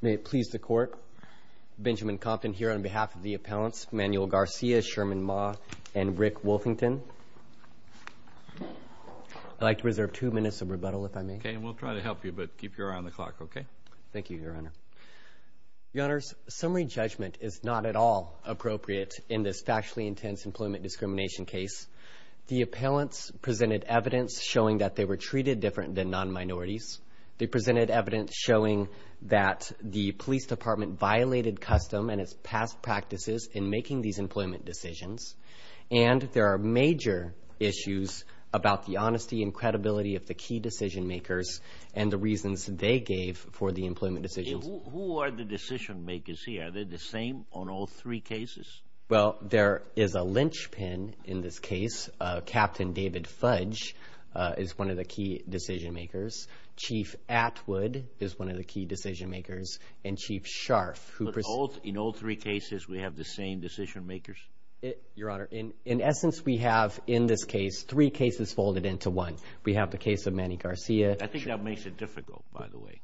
May it please the court, Benjamin Compton here on behalf of the appellants, Manuel Garcia, Sherman Ma, and Rick Wolfington. I'd like to reserve two minutes of rebuttal, if I may. Okay, and we'll try to help you, but keep your eye on the clock, okay? Thank you, Your Honor. Your Honors, summary judgment is not at all appropriate in this factually intense employment discrimination case. The appellants presented evidence showing that they were treated different than non-minorities. They presented evidence showing that the police department violated custom and its past practices in making these employment decisions. And there are major issues about the honesty and credibility of the key decision makers and the reasons they gave for the employment decisions. Who are the decision makers here? Are they the same on all three cases? Well, there is a linchpin in this case. Captain David Fudge is one of the key decision makers. Chief Atwood is one of the key decision makers. And Chief Scharf, who pres... But in all three cases, we have the same decision makers? Your Honor, in essence, we have in this case three cases folded into one. We have the case of Manny Garcia. I think that makes it difficult, by the way.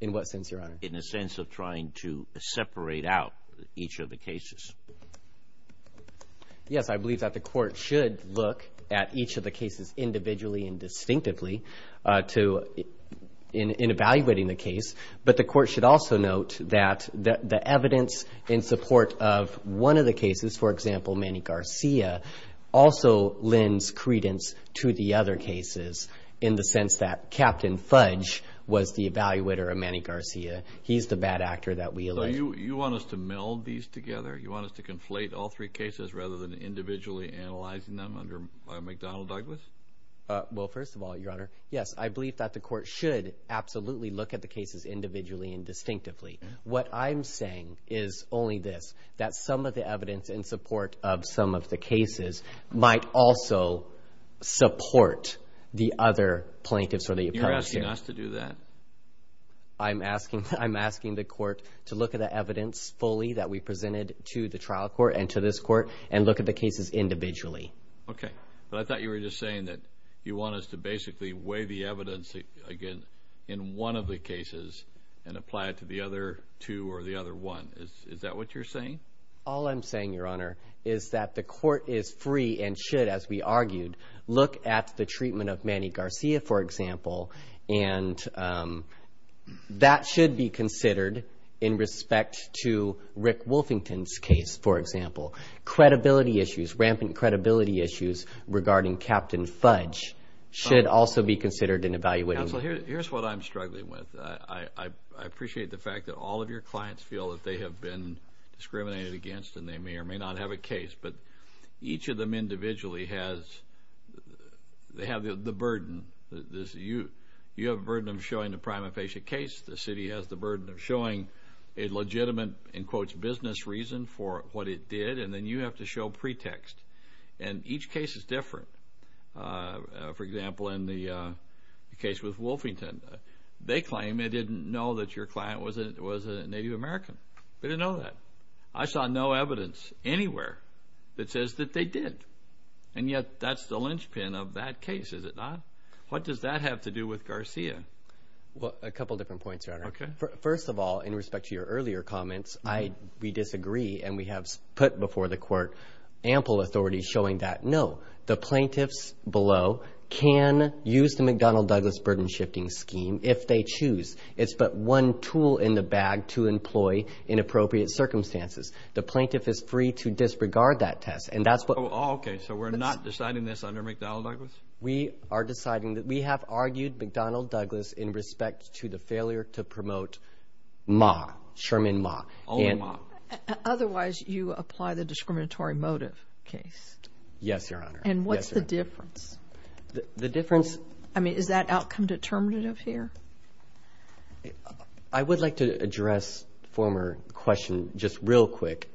In what sense, Your Honor? In a sense of trying to separate out each of the cases. Yes, I believe that the court should look at each of the cases individually and distinctively in evaluating the case. But the court should also note that the evidence in support of one of the cases, for example, Manny Garcia, also lends credence to the other cases in the sense that Captain Fudge was the evaluator of Manny Garcia. He's the bad actor that we elected. You want us to meld these together? You want us to conflate all three cases rather than individually analyzing them under McDonnell Douglas? Well, first of all, Your Honor, yes, I believe that the court should absolutely look at the cases individually and distinctively. What I'm saying is only this, that some of the evidence in support of some of the cases might also support the other plaintiffs or the appellate. You're asking us to do that? I'm asking the court to look at the evidence fully that we presented to the trial court and to this court and look at the cases individually. Okay. But I thought you were just saying that you want us to basically weigh the evidence, again, in one of the cases and apply it to the other two or the other one. Is that what you're saying? All I'm saying, Your Honor, is that the court is free and should, as we argued, look at the treatment of Manny Garcia, for example, and that should be considered in respect to Rick Wolfington's case, for example. Credibility issues, rampant credibility issues regarding Captain Fudge should also be considered in evaluating. Counsel, here's what I'm struggling with. I appreciate the fact that all of your clients feel that they have been discriminated against and they may or may not have a case, but each of them individually has the burden. You have a burden of showing the prima facie case. The city has the burden of showing a legitimate, in quotes, business reason for what it did, and then you have to show pretext, and each case is different. For example, in the case with Wolfington, they claim they didn't know that your client was a Native American. They didn't know that. I saw no evidence anywhere that says that they did, and yet that's the linchpin of that case, is it not? What does that have to do with Garcia? Well, a couple different points, Your Honor. Okay. First of all, in respect to your earlier comments, we disagree, and we have put before the court ample authority showing that, no, the plaintiffs below can use the McDonnell-Douglas burden-shifting scheme if they choose. It's but one tool in the bag to employ in appropriate circumstances. The plaintiff is free to disregard that test, and that's what- Okay. So we're not deciding this under McDonnell-Douglas? We are deciding that we have argued McDonnell-Douglas in respect to the failure to promote Ma, Sherman Ma. Only Ma. Otherwise, you apply the discriminatory motive case. Yes, Your Honor. And what's the difference? The difference- I mean, is that outcome determinative here? I would like to address a former question just real quick.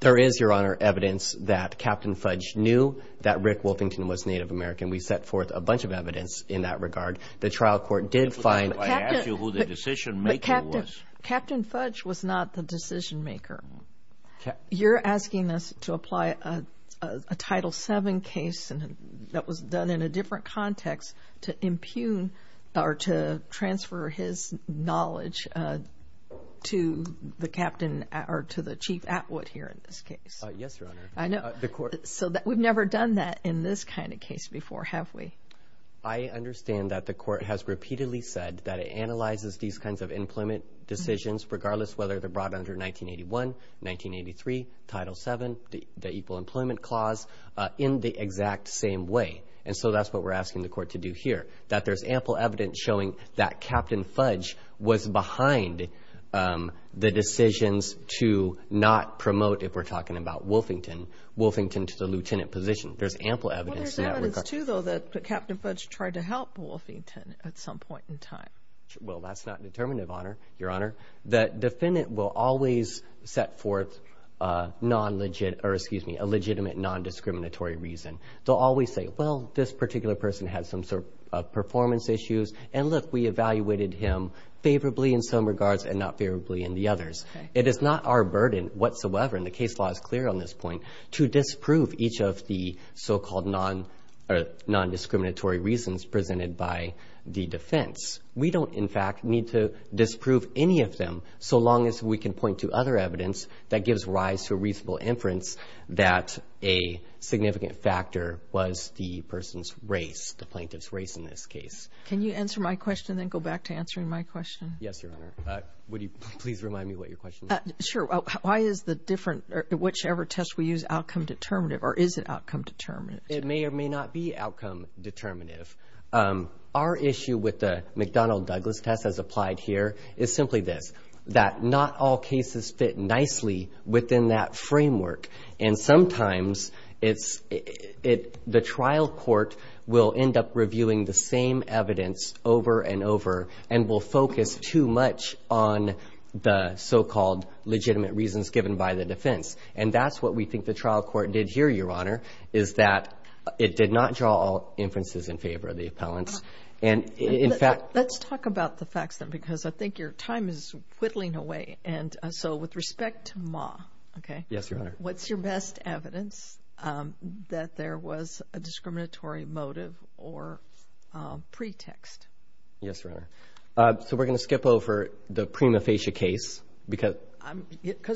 There is, Your Honor, evidence that Captain Fudge knew that Rick Wolfington was Native American. We set forth a bunch of evidence in that regard. The trial court did find- I asked you who the decision-maker was. But Captain Fudge was not the decision-maker. You're asking us to apply a Title VII case that was done in a different context to impugn or to transfer his knowledge to the Captain or to the Chief Atwood here in this case. Yes, Your Honor. I know. So we've never done that in this kind of case before, have we? I understand that the court has repeatedly said that it analyzes these kinds of employment decisions, regardless whether they're brought under 1981, 1983, Title VII, the Equal Employment Clause, in the exact same way. And so that's what we're asking the court to do here, that there's ample evidence showing that Captain Fudge was behind the decisions to not promote, if we're talking about Wolfington, Wolfington to the lieutenant position. There's ample evidence in that regard. Well, there's evidence, too, though, that Captain Fudge tried to help Wolfington at some point in time. Well, that's not determinative, Your Honor. The defendant will always set forth a legitimate non-discriminatory reason. They'll always say, well, this particular person had some sort of performance issues, and look, we evaluated him favorably in some regards and not favorably in the others. It is not our burden whatsoever, and the case law is clear on this point, to disprove each of the so-called non-discriminatory reasons presented by the defense. We don't, in fact, need to disprove any of them, so long as we can point to other evidence that gives rise to a reasonable inference that a significant factor was the person's race, the plaintiff's race in this case. Can you answer my question and then go back to answering my question? Yes, Your Honor. Would you please remind me what your question is? Sure. Why is the different or whichever test we use outcome determinative, or is it outcome determinative? It may or may not be outcome determinative. Our issue with the McDonnell-Douglas test as applied here is simply this, that not all cases fit nicely within that framework, and sometimes the trial court will end up reviewing the same evidence over and over and will focus too much on the so-called legitimate reasons given by the defense, and that's what we think the trial court did here, Your Honor, is that it did not draw all inferences in favor of the appellants. Let's talk about the facts, then, because I think your time is whittling away. And so with respect to Ma, what's your best evidence that there was a discriminatory motive or pretext? Yes, Your Honor. So we're going to skip over the prima facie case. Because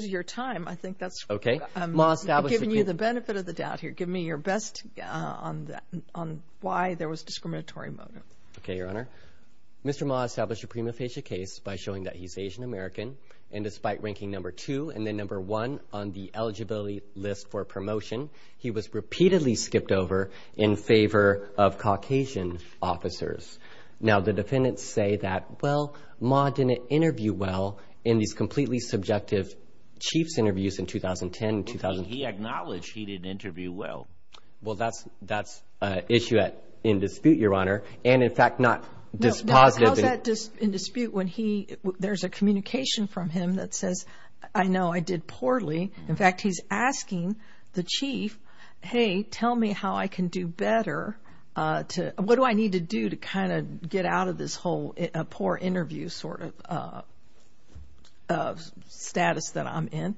of your time, I think that's giving you the benefit of the doubt here. Give me your best on why there was a discriminatory motive. Okay, Your Honor. Mr. Ma established a prima facie case by showing that he's Asian American, and despite ranking number two and then number one on the eligibility list for promotion, he was repeatedly skipped over in favor of Caucasian officers. Now, the defendants say that, well, Ma didn't interview well in these completely subjective chiefs interviews in 2010 and 2010. He acknowledged he didn't interview well. Well, that's an issue in dispute, Your Honor, and, in fact, not dispositive. How is that in dispute when there's a communication from him that says, I know I did poorly. In fact, he's asking the chief, hey, tell me how I can do better. What do I need to do to kind of get out of this whole poor interview sort of status that I'm in?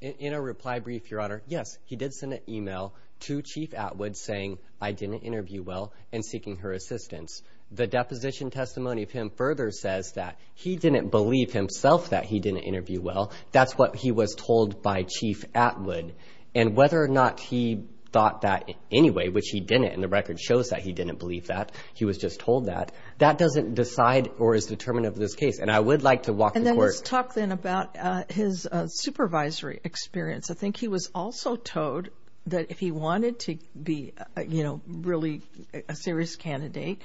In a reply brief, Your Honor, yes, he did send an e-mail to Chief Atwood saying, I didn't interview well and seeking her assistance. The deposition testimony of him further says that he didn't believe himself that he didn't interview well. That's what he was told by Chief Atwood. And whether or not he thought that anyway, which he didn't, and the record shows that he didn't believe that, he was just told that, that doesn't decide or is determinative of this case. And I would like to walk the court. And then let's talk then about his supervisory experience. I think he was also told that if he wanted to be, you know, really a serious candidate,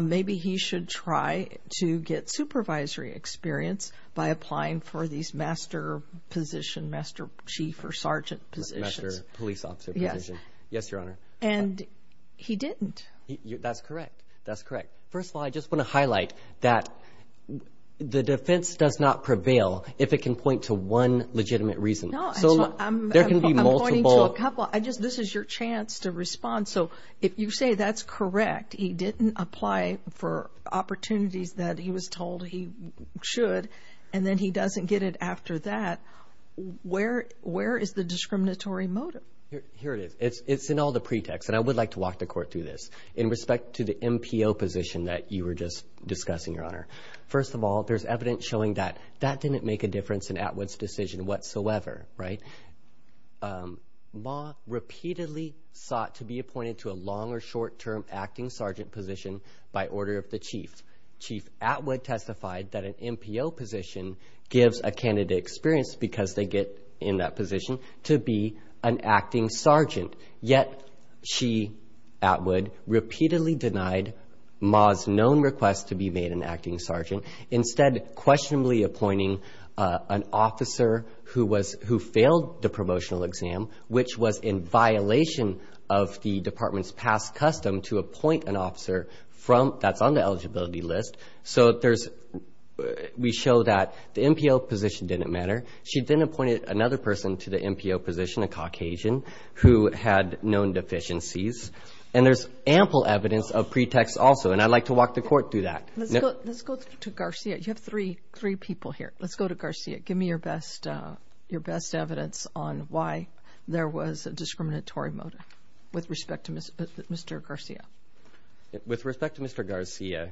maybe he should try to get supervisory experience by applying for these master position, master chief or sergeant positions. Master police officer position. Yes. Yes, Your Honor. And he didn't. That's correct. That's correct. First of all, I just want to highlight that the defense does not prevail if it can point to one legitimate reason. No. There can be multiple. I'm pointing to a couple. This is your chance to respond. So if you say that's correct, he didn't apply for opportunities that he was told he should, and then he doesn't get it after that, where is the discriminatory motive? Here it is. It's in all the pretext. And I would like to walk the court through this in respect to the MPO position that you were just discussing, Your Honor. First of all, there's evidence showing that that didn't make a difference in Atwood's decision whatsoever, right? Ma repeatedly sought to be appointed to a long- or short-term acting sergeant position by order of the chief. Chief Atwood testified that an MPO position gives a candidate experience because they get in that position to be an acting sergeant. Yet she, Atwood, repeatedly denied Ma's known request to be made an acting sergeant, instead questionably appointing an officer who failed the promotional exam, which was in violation of the department's past custom to appoint an officer that's on the eligibility list. So we show that the MPO position didn't matter. She then appointed another person to the MPO position, a Caucasian, who had known deficiencies. And there's ample evidence of pretext also, and I'd like to walk the court through that. Let's go to Garcia. You have three people here. Let's go to Garcia. Give me your best evidence on why there was a discriminatory motive with respect to Mr. Garcia. With respect to Mr. Garcia,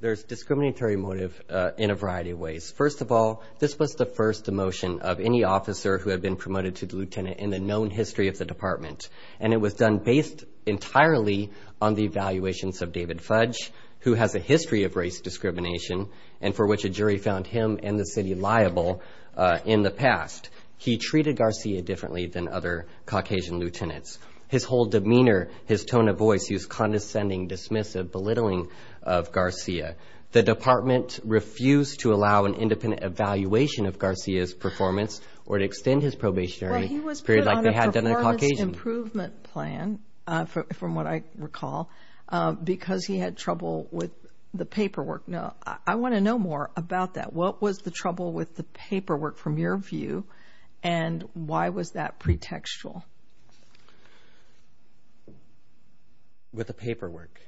there's discriminatory motive in a variety of ways. First of all, this was the first demotion of any officer who had been promoted to lieutenant in the known history of the department. And it was done based entirely on the evaluations of David Fudge, who has a history of race discrimination, and for which a jury found him and the city liable in the past. He treated Garcia differently than other Caucasian lieutenants. His whole demeanor, his tone of voice, his condescending dismissive belittling of Garcia. The department refused to allow an independent evaluation of Garcia's performance or to extend his probationary period like they had done in a Caucasian. Well, he was put on a performance improvement plan, from what I recall, because he had trouble with the paperwork. Now, I want to know more about that. What was the trouble with the paperwork, from your view, and why was that pretextual? With the paperwork?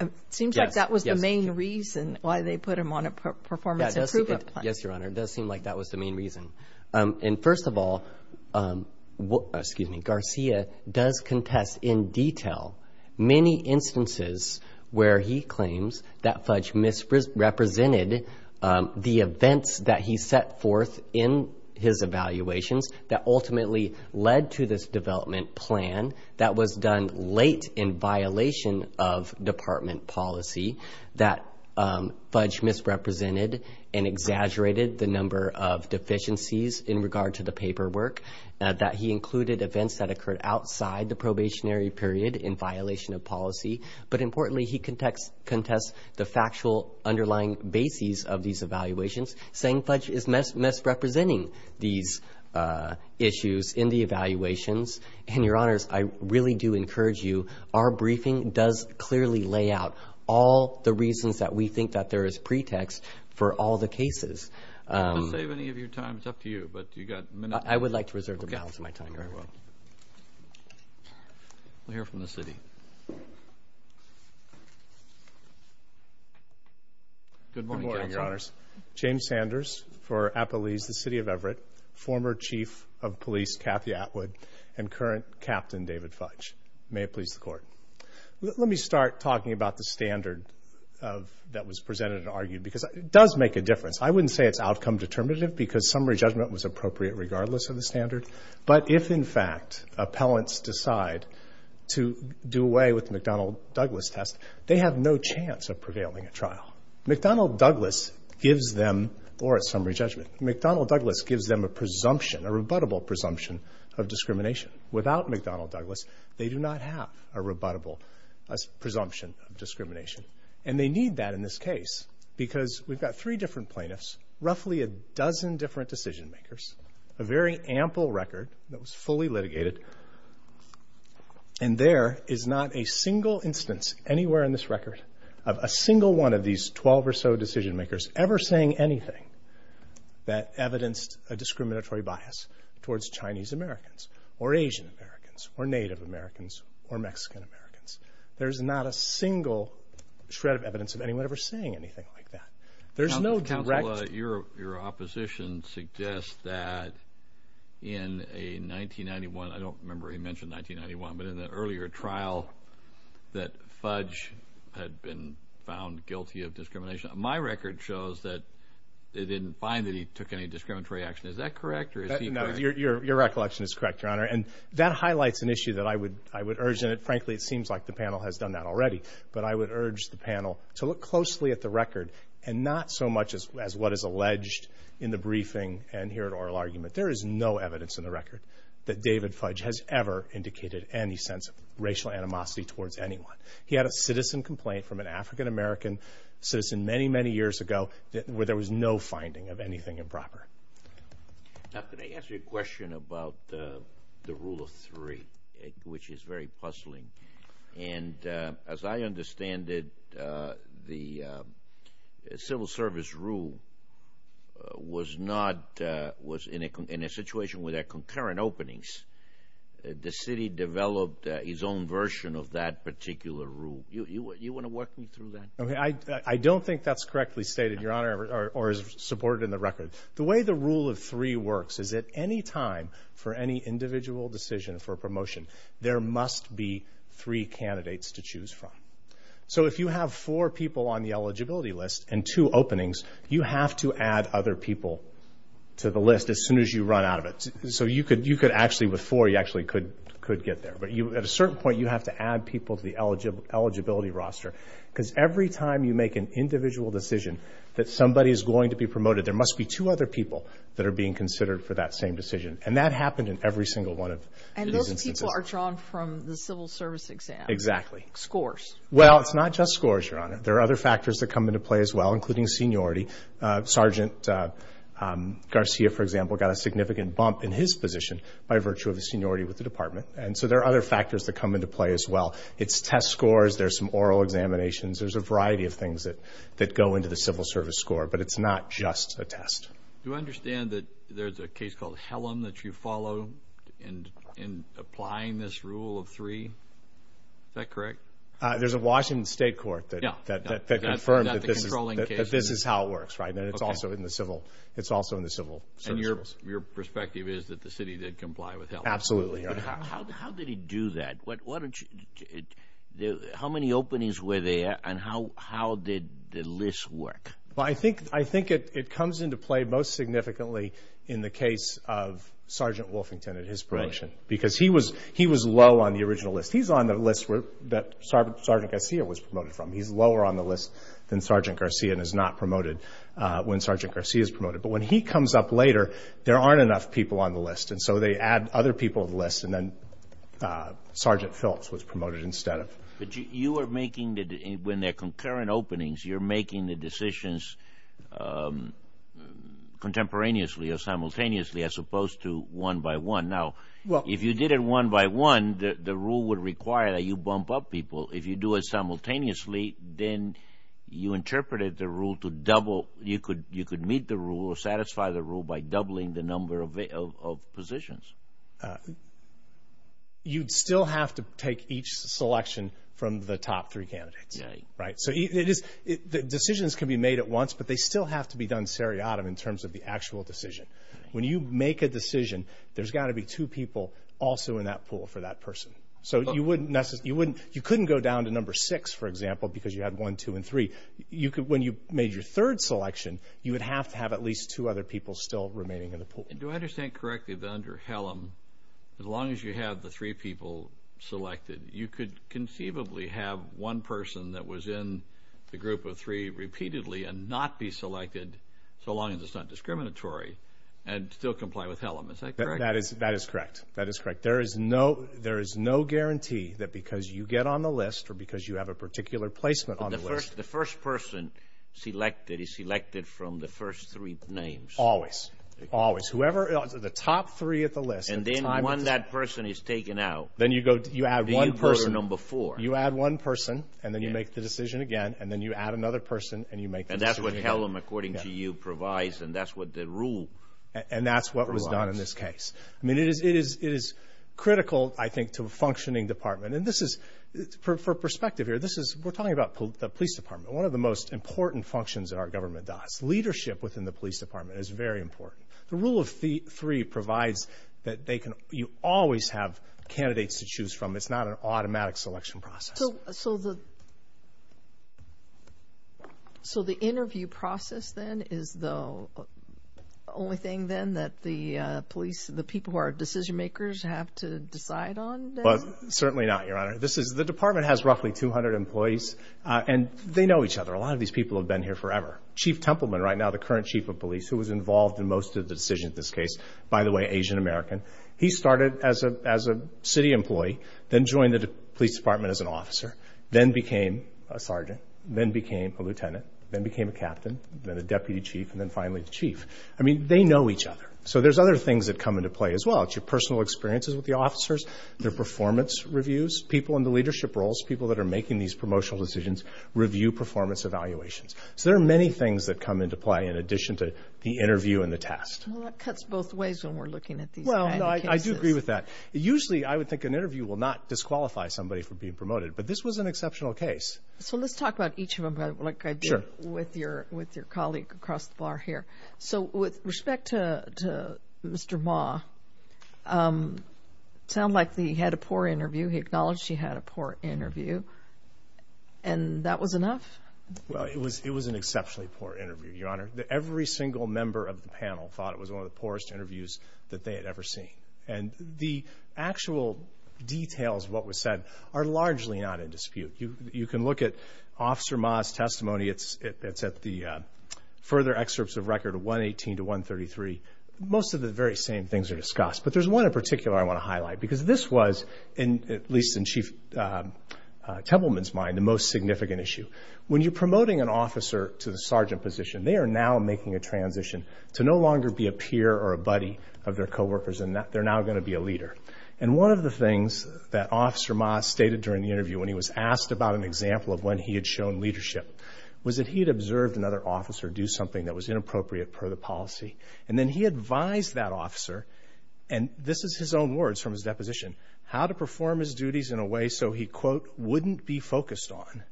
It seems like that was the main reason why they put him on a performance improvement plan. Yes, Your Honor. It does seem like that was the main reason. And first of all, Garcia does contest in detail many instances where he claims that Fudge misrepresented the events that he set forth in his evaluations that ultimately led to this development plan that was done late in violation of department policy, that Fudge misrepresented and exaggerated the number of deficiencies in regard to the paperwork, that he included events that occurred outside the probationary period in violation of policy. But importantly, he contests the factual underlying bases of these evaluations, saying Fudge is misrepresenting these issues in the evaluations. And, Your Honors, I really do encourage you. Our briefing does clearly lay out all the reasons that we think that there is pretext for all the cases. I don't have to save any of your time. It's up to you. But you've got a minute. I would like to reserve the balance of my time, Your Honor. Okay. Very well. We'll hear from the city. Good morning, Counsel. Good morning, Your Honors. James Sanders for Appalese, the City of Everett, former Chief of Police Kathy Atwood, and current Captain David Fudge. May it please the Court. Let me start talking about the standard that was presented and argued because it does make a difference. I wouldn't say it's outcome determinative because summary judgment was appropriate regardless of the standard. But if, in fact, appellants decide to do away with the McDonnell-Douglas test, they have no chance of prevailing at trial. McDonnell-Douglas gives them, or at summary judgment, McDonnell-Douglas gives them a presumption, a rebuttable presumption of discrimination. Without McDonnell-Douglas, they do not have a rebuttable presumption of discrimination. And they need that in this case because we've got three different plaintiffs, roughly a dozen different decision-makers, a very ample record that was fully litigated, and there is not a single instance anywhere in this record of a single one of these 12 or so decision-makers ever saying anything that evidenced a discriminatory bias towards Chinese Americans or Asian Americans or Native Americans or Mexican Americans. There's not a single shred of evidence of anyone ever saying anything like that. There's no direct... Your opposition suggests that in a 1991, I don't remember he mentioned 1991, but in the earlier trial that Fudge had been found guilty of discrimination. My record shows that they didn't find that he took any discriminatory action. Is that correct or is he correct? Your recollection is correct, Your Honor, and that highlights an issue that I would urge, and frankly it seems like the panel has done that already, but I would urge the panel to look closely at the record and not so much as what is alleged in the briefing and here at oral argument. There is no evidence in the record that David Fudge has ever indicated any sense of racial animosity towards anyone. He had a citizen complaint from an African-American citizen many, many years ago where there was no finding of anything improper. Now, can I ask you a question about the rule of three, which is very puzzling? And as I understand it, the civil service rule was in a situation where there are concurrent openings. The city developed its own version of that particular rule. You want to walk me through that? I don't think that's correctly stated, Your Honor, or is supported in the record. The way the rule of three works is at any time for any individual decision for a promotion, there must be three candidates to choose from. So if you have four people on the eligibility list and two openings, you have to add other people to the list as soon as you run out of it. So you could actually, with four, you actually could get there. But at a certain point, you have to add people to the eligibility roster because every time you make an individual decision that somebody is going to be promoted, there must be two other people that are being considered for that same decision, and that happened in every single one of these instances. People are drawn from the civil service exam. Exactly. Scores. Well, it's not just scores, Your Honor. There are other factors that come into play as well, including seniority. Sergeant Garcia, for example, got a significant bump in his position by virtue of his seniority with the department, and so there are other factors that come into play as well. It's test scores. There's some oral examinations. Do I understand that there's a case called Hellam that you follow in applying this rule of three? Is that correct? There's a Washington State court that confirmed that this is how it works, right, and it's also in the civil service rules. And your perspective is that the city did comply with Hellam? Absolutely, Your Honor. How did he do that? How many openings were there, and how did the list work? Well, I think it comes into play most significantly in the case of Sergeant Wolfington and his promotion because he was low on the original list. He's on the list that Sergeant Garcia was promoted from. He's lower on the list than Sergeant Garcia and is not promoted when Sergeant Garcia is promoted. But when he comes up later, there aren't enough people on the list, and so they add other people to the list, and then Sergeant Phillips was promoted instead of him. But you are making, when there are concurrent openings, you're making the decisions contemporaneously or simultaneously as opposed to one by one. Now, if you did it one by one, the rule would require that you bump up people. If you do it simultaneously, then you interpreted the rule to double. You could meet the rule or satisfy the rule by doubling the number of positions. You'd still have to take each selection from the top three candidates, right? So decisions can be made at once, but they still have to be done seriatim in terms of the actual decision. When you make a decision, there's got to be two people also in that pool for that person. So you couldn't go down to number six, for example, because you had one, two, and three. When you made your third selection, you would have to have at least two other people still remaining in the pool. Do I understand correctly that under HELM, as long as you have the three people selected, you could conceivably have one person that was in the group of three repeatedly and not be selected, so long as it's not discriminatory, and still comply with HELM. Is that correct? That is correct. That is correct. There is no guarantee that because you get on the list or because you have a particular placement on the list. But the first person selected is selected from the first three names. Always. Always. Whoever the top three at the list. And then when that person is taken out, do you put her number four? You add one person, and then you make the decision again, and then you add another person, and you make the decision again. And that's what HELM, according to you, provides, and that's what the rule provides. And that's what was done in this case. I mean, it is critical, I think, to a functioning department. And this is, for perspective here, we're talking about the police department. One of the most important functions that our government does, leadership within the police department, is very important. The rule of three provides that you always have candidates to choose from. It's not an automatic selection process. So the interview process, then, is the only thing, then, that the police, the people who are decision makers, have to decide on? Certainly not, Your Honor. The department has roughly 200 employees, and they know each other. A lot of these people have been here forever. Chief Templeman, right now, the current chief of police, who was involved in most of the decisions in this case, by the way, Asian-American, he started as a city employee, then joined the police department as an officer, then became a sergeant, then became a lieutenant, then became a captain, then a deputy chief, and then finally the chief. I mean, they know each other. So there's other things that come into play as well. It's your personal experiences with the officers, their performance reviews, people in the leadership roles, people that are making these promotional decisions, review performance evaluations. So there are many things that come into play in addition to the interview and the test. Well, that cuts both ways when we're looking at these kind of cases. Well, no, I do agree with that. Usually, I would think an interview will not disqualify somebody for being promoted, but this was an exceptional case. So let's talk about each of them, like I did with your colleague across the bar here. So with respect to Mr. Ma, it sounded like he had a poor interview. He acknowledged he had a poor interview, and that was enough? Well, it was an exceptionally poor interview, Your Honor. Every single member of the panel thought it was one of the poorest interviews that they had ever seen. And the actual details of what was said are largely not in dispute. You can look at Officer Ma's testimony. It's at the further excerpts of record, 118 to 133. Most of the very same things are discussed, but there's one in particular I want to highlight, because this was, at least in Chief Templeman's mind, the most significant issue. When you're promoting an officer to the sergeant position, they are now making a transition to no longer be a peer or a buddy of their coworkers, and they're now going to be a leader. And one of the things that Officer Ma stated during the interview when he was asked about an example of when he had shown leadership was that he had observed another officer do something that was inappropriate per the policy, and then he advised that officer, and this is his own words from his deposition, how to perform his duties in a way so he, quote, wouldn't be focused on.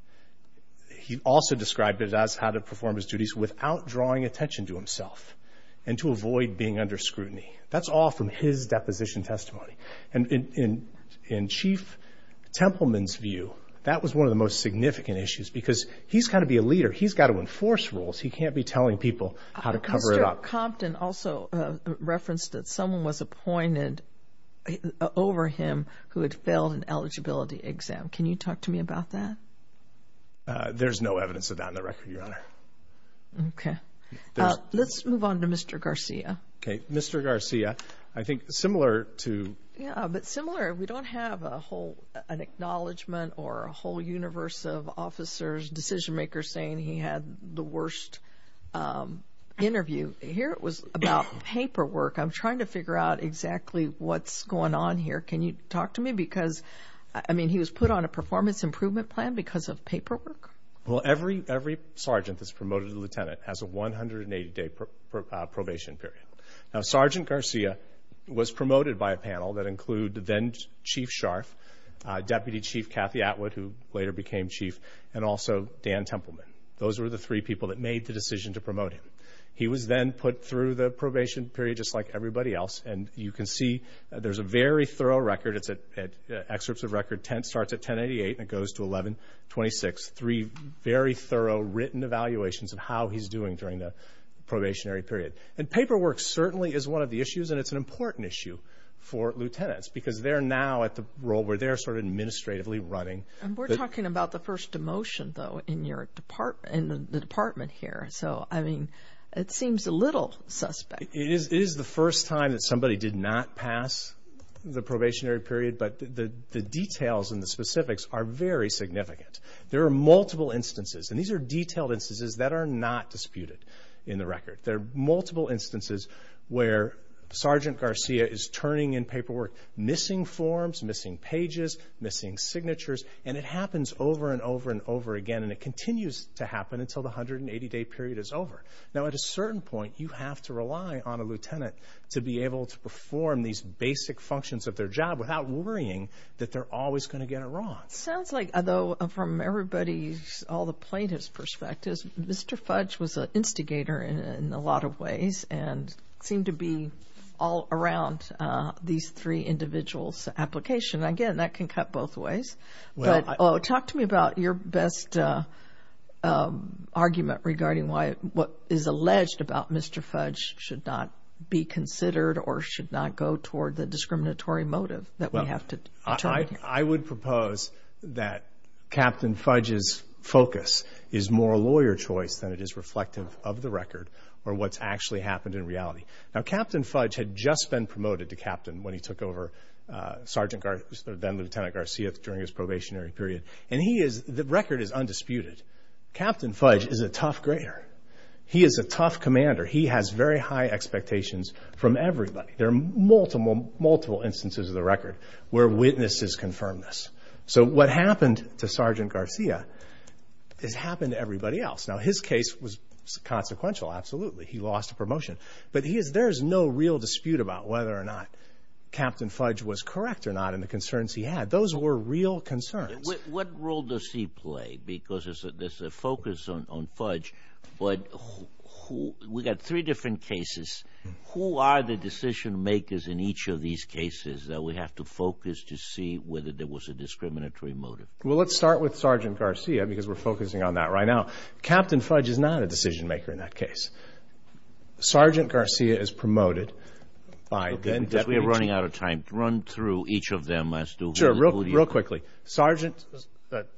He also described it as how to perform his duties without drawing attention to himself and to avoid being under scrutiny. That's all from his deposition testimony. And in Chief Templeman's view, that was one of the most significant issues because he's got to be a leader. He's got to enforce rules. He can't be telling people how to cover it up. Mr. Compton also referenced that someone was appointed over him who had failed an eligibility exam. Can you talk to me about that? There's no evidence of that in the record, Your Honor. Okay. Let's move on to Mr. Garcia. Okay. Mr. Garcia, I think similar to... Yeah, but similar, we don't have a whole acknowledgment or a whole universe of officers, decision-makers saying he had the worst interview. Here it was about paperwork. I'm trying to figure out exactly what's going on here. Can you talk to me? Because, I mean, he was put on a performance improvement plan because of paperwork? Well, every sergeant that's promoted to lieutenant has a 180-day probation period. Now, Sergeant Garcia was promoted by a panel that include then-Chief Scharf, Deputy Chief Kathy Atwood, who later became chief, and also Dan Templeman. Those were the three people that made the decision to promote him. He was then put through the probation period just like everybody else, and you can see there's a very thorough record. It's at excerpts of record 10, starts at 1088, and it goes to 1126. Three very thorough written evaluations of how he's doing during the probationary period. And paperwork certainly is one of the issues, and it's an important issue for lieutenants because they're now at the role where they're sort of administratively running. We're talking about the first demotion, though, in the department here. So, I mean, it seems a little suspect. It is the first time that somebody did not pass the probationary period, but the details and the specifics are very significant. There are multiple instances, and these are detailed instances that are not disputed in the record. There are multiple instances where Sergeant Garcia is turning in paperwork, missing forms, missing pages, missing signatures, and it happens over and over and over again, and it continues to happen until the 180-day period is over. Now, at a certain point, you have to rely on a lieutenant to be able to perform these basic functions of their job without worrying that they're always going to get it wrong. Sounds like, though, from everybody's, all the plaintiff's perspective, Mr. Fudge was an instigator in a lot of ways and seemed to be all around these three individuals' application. Again, that can cut both ways. Talk to me about your best argument regarding what is alleged about Mr. Fudge should not be considered or should not go toward the discriminatory motive that we have to turn to. I would propose that Captain Fudge's focus is more a lawyer choice than it is reflective of the record or what's actually happened in reality. Now, Captain Fudge had just been promoted to captain when he took over Sergeant Garcia, then Lieutenant Garcia, during his probationary period, and he is, the record is undisputed. Captain Fudge is a tough grader. He is a tough commander. He has very high expectations from everybody. There are multiple, multiple instances of the record where witnesses confirm this. So what happened to Sergeant Garcia has happened to everybody else. Now, his case was consequential, absolutely. He lost a promotion. But there is no real dispute about whether or not Captain Fudge was correct or not and the concerns he had. Those were real concerns. What role does he play? Because there's a focus on Fudge, but we've got three different cases. Who are the decision makers in each of these cases that we have to focus to see whether there was a discriminatory motive? Well, let's start with Sergeant Garcia because we're focusing on that right now. Captain Fudge is not a decision maker in that case. Sergeant Garcia is promoted by then Deputy Chief. We're running out of time. Run through each of them. Sure. Real quickly.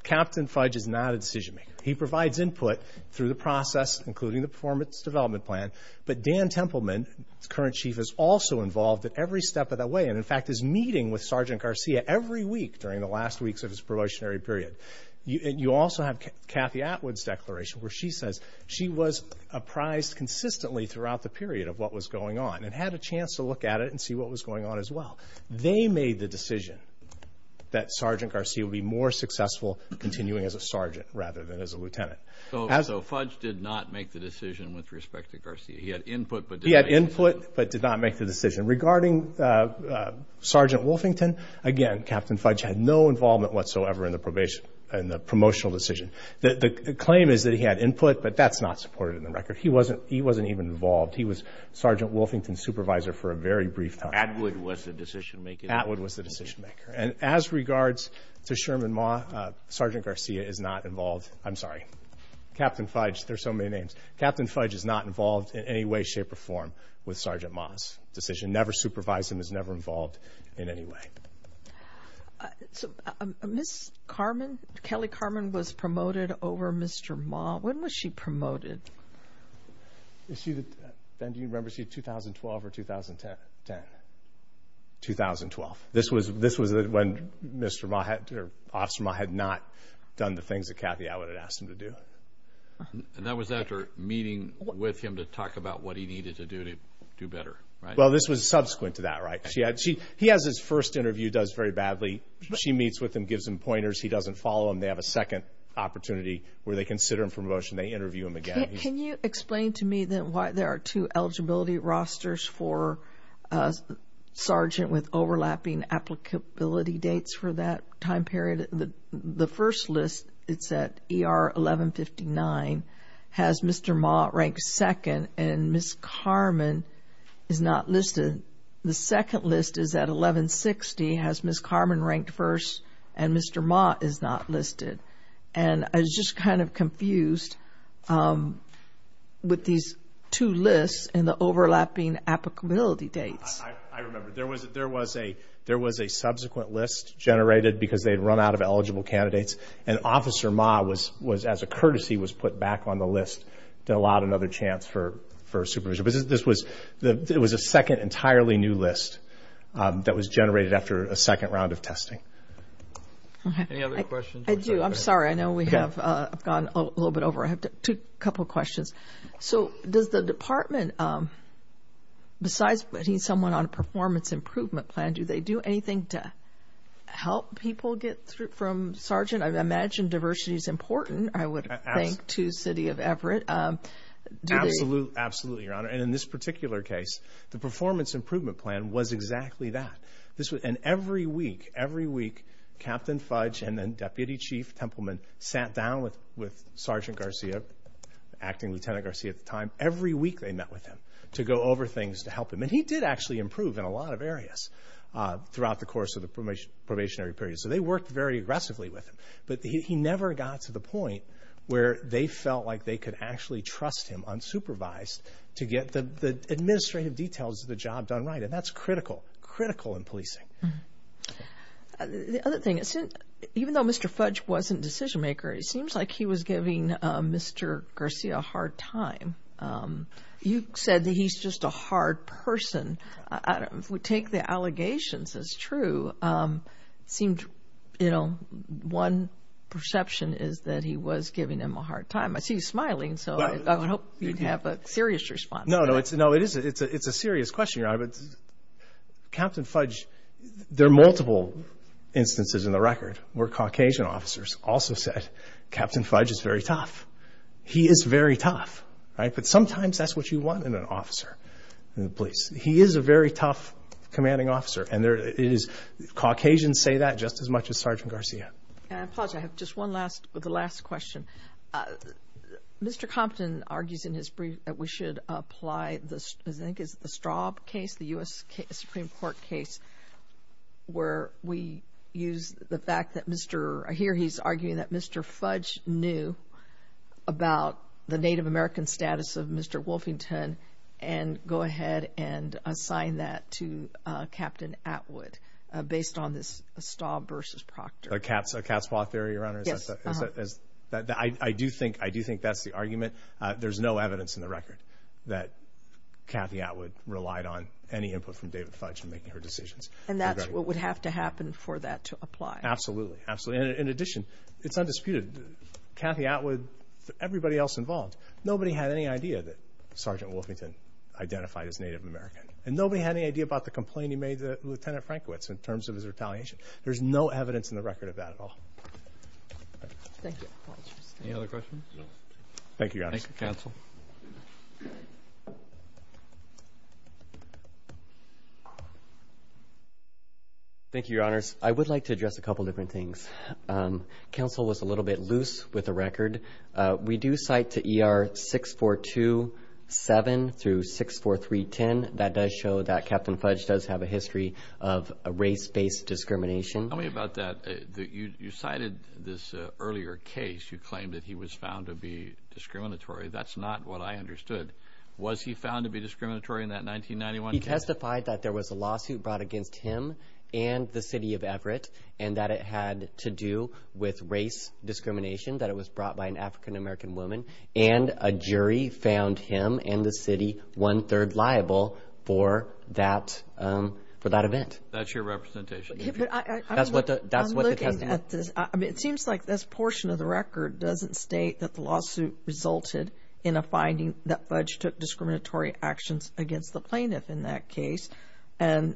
Captain Fudge is not a decision maker. He provides input through the process, including the performance development plan. But Dan Templeman, current chief, is also involved at every step of the way and, in fact, is meeting with Sergeant Garcia every week during the last weeks of his probationary period. You also have Kathy Atwood's declaration where she says she was apprised consistently throughout the period of what was going on and had a chance to look at it and see what was going on as well. They made the decision that Sergeant Garcia would be more successful continuing as a sergeant rather than as a lieutenant. So Fudge did not make the decision with respect to Garcia. He had input but did not make the decision. He had input but did not make the decision. And regarding Sergeant Wolfington, again, Captain Fudge had no involvement whatsoever in the promotional decision. The claim is that he had input, but that's not supported in the record. He wasn't even involved. He was Sergeant Wolfington's supervisor for a very brief time. Atwood was the decision maker. Atwood was the decision maker. And as regards to Sherman Maugh, Sergeant Garcia is not involved. I'm sorry. Captain Fudge. There are so many names. Captain Fudge is not involved in any way, shape, or form with Sergeant Maugh's decision. Never supervised him. He was never involved in any way. Kelly Carman was promoted over Mr. Maugh. When was she promoted? Ben, do you remember? Was she 2012 or 2010? 2012. This was when Officer Maugh had not done the things that Cathy Atwood had asked him to do. And that was after meeting with him to talk about what he needed to do to do better, right? Well, this was subsequent to that, right? He has his first interview, does very badly. She meets with him, gives him pointers. He doesn't follow them. They have a second opportunity where they consider him for promotion. They interview him again. Can you explain to me then why there are two eligibility rosters for Sergeant with overlapping applicability dates for that time period? The first list, it's at ER 1159, has Mr. Maugh ranked second, and Ms. Carman is not listed. The second list is at 1160, has Ms. Carman ranked first, and Mr. Maugh is not listed. And I was just kind of confused with these two lists and the overlapping applicability dates. I remember. There was a subsequent list generated because they had run out of eligible candidates, and Officer Maugh was, as a courtesy, was put back on the list to allow another chance for supervision. But this was a second entirely new list that was generated after a second round of testing. Any other questions? I do. I'm sorry. I know we have gone a little bit over. I have a couple of questions. So does the department, besides putting someone on a performance improvement plan, do they do anything to help people get through from Sergeant? I imagine diversity is important, I would think, to City of Everett. Absolutely, Your Honor. And in this particular case, the performance improvement plan was exactly that. And every week, every week, Captain Fudge and then Deputy Chief Templeman sat down with Sergeant Garcia, Acting Lieutenant Garcia at the time, every week they met with him to go over things to help him. And he did actually improve in a lot of areas throughout the course of the probationary period. So they worked very aggressively with him. But he never got to the point where they felt like they could actually trust him unsupervised to get the administrative details of the job done right. And that's critical, critical in policing. The other thing, even though Mr. Fudge wasn't a decision-maker, it seems like he was giving Mr. Garcia a hard time. You said that he's just a hard person. If we take the allegations as true, it seems, you know, one perception is that he was giving him a hard time. I see you smiling, so I would hope you'd have a serious response. No, no, it's a serious question, Your Honor. Captain Fudge, there are multiple instances in the record where Caucasian officers also said, Captain Fudge is very tough. He is very tough. But sometimes that's what you want in an officer in the police. He is a very tough commanding officer. And Caucasians say that just as much as Sergeant Garcia. And I apologize, I have just one last question. Mr. Compton argues in his brief that we should apply, I think it's the Straub case, the U.S. Supreme Court case where we use the fact that Mr. I hear he's arguing that Mr. Fudge knew about the Native American status of Mr. Wolfington and go ahead and assign that to Captain Atwood based on this Straub versus Proctor. A cat's paw theory, Your Honor? Yes. I do think that's the argument. There's no evidence in the record that Cathy Atwood relied on any input from David Fudge in making her decisions. And that's what would have to happen for that to apply. Absolutely, absolutely. In addition, it's undisputed, Cathy Atwood, everybody else involved, nobody had any idea that Sergeant Wolfington identified as Native American. And nobody had any idea about the complaint he made to Lieutenant Frankowitz in terms of his retaliation. There's no evidence in the record of that at all. Thank you. Any other questions? No. Thank you, Your Honors. Thank you, Counsel. Thank you, Your Honors. I would like to address a couple different things. Counsel was a little bit loose with the record. We do cite to ER 6427 through 64310. That does show that Captain Fudge does have a history of race-based discrimination. Tell me about that. You cited this earlier case. You claimed that he was found to be discriminatory. That's not what I understood. Was he found to be discriminatory in that 1991 case? He testified that there was a lawsuit brought against him and the city of Everett and that it had to do with race discrimination, that it was brought by an African-American woman. And a jury found him and the city one-third liable for that event. That's your representation. I'm looking at this. It seems like this portion of the record doesn't state that the lawsuit resulted in a finding that Fudge took discriminatory actions against the plaintiff in that case,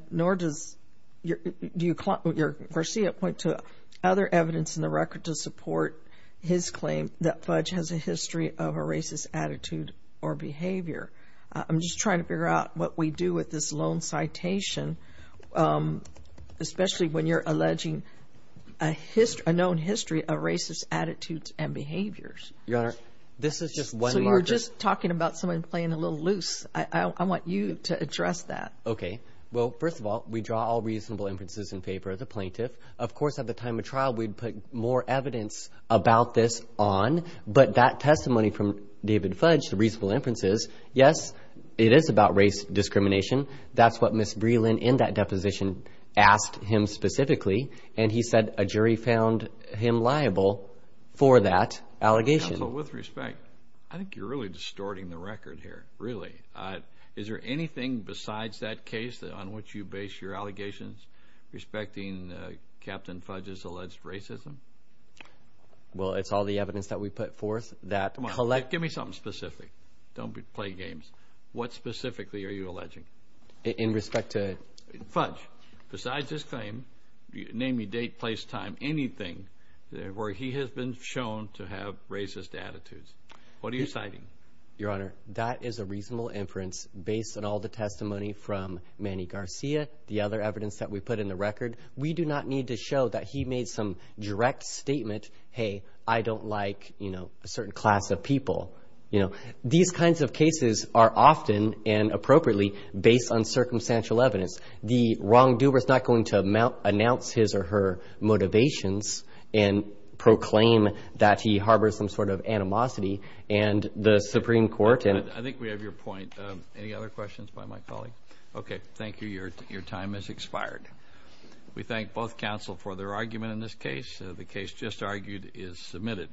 nor does your versea point to other evidence in the record to support his claim that Fudge has a history of a racist attitude or behavior. I'm just trying to figure out what we do with this lone citation, especially when you're alleging a known history of racist attitudes and behaviors. Your Honor, this is just one larger. So you're just talking about someone playing a little loose. I want you to address that. Okay. Well, first of all, we draw all reasonable inferences in favor of the plaintiff. Of course, at the time of trial, we'd put more evidence about this on, but that testimony from David Fudge, the reasonable inferences, yes, it is about race discrimination. That's what Ms. Breland in that deposition asked him specifically, and he said a jury found him liable for that allegation. Counsel, with respect, I think you're really distorting the record here, really. Is there anything besides that case on which you base your allegations respecting Captain Fudge's alleged racism? Well, it's all the evidence that we put forth that collects. Give me something specific. Don't play games. What specifically are you alleging? In respect to? Fudge. Besides his claim, name, date, place, time, anything where he has been shown to have racist attitudes. What are you citing? Your Honor, that is a reasonable inference based on all the testimony from Manny Garcia, the other evidence that we put in the record. We do not need to show that he made some direct statement, hey, I don't like a certain class of people. These kinds of cases are often and appropriately based on circumstantial evidence. The wrongdoer is not going to announce his or her motivations and proclaim that he harbors some sort of animosity, and the Supreme Court. I think we have your point. Any other questions by my colleague? Okay, thank you. Your time has expired. We thank both counsel for their argument in this case. The case just argued is submitted.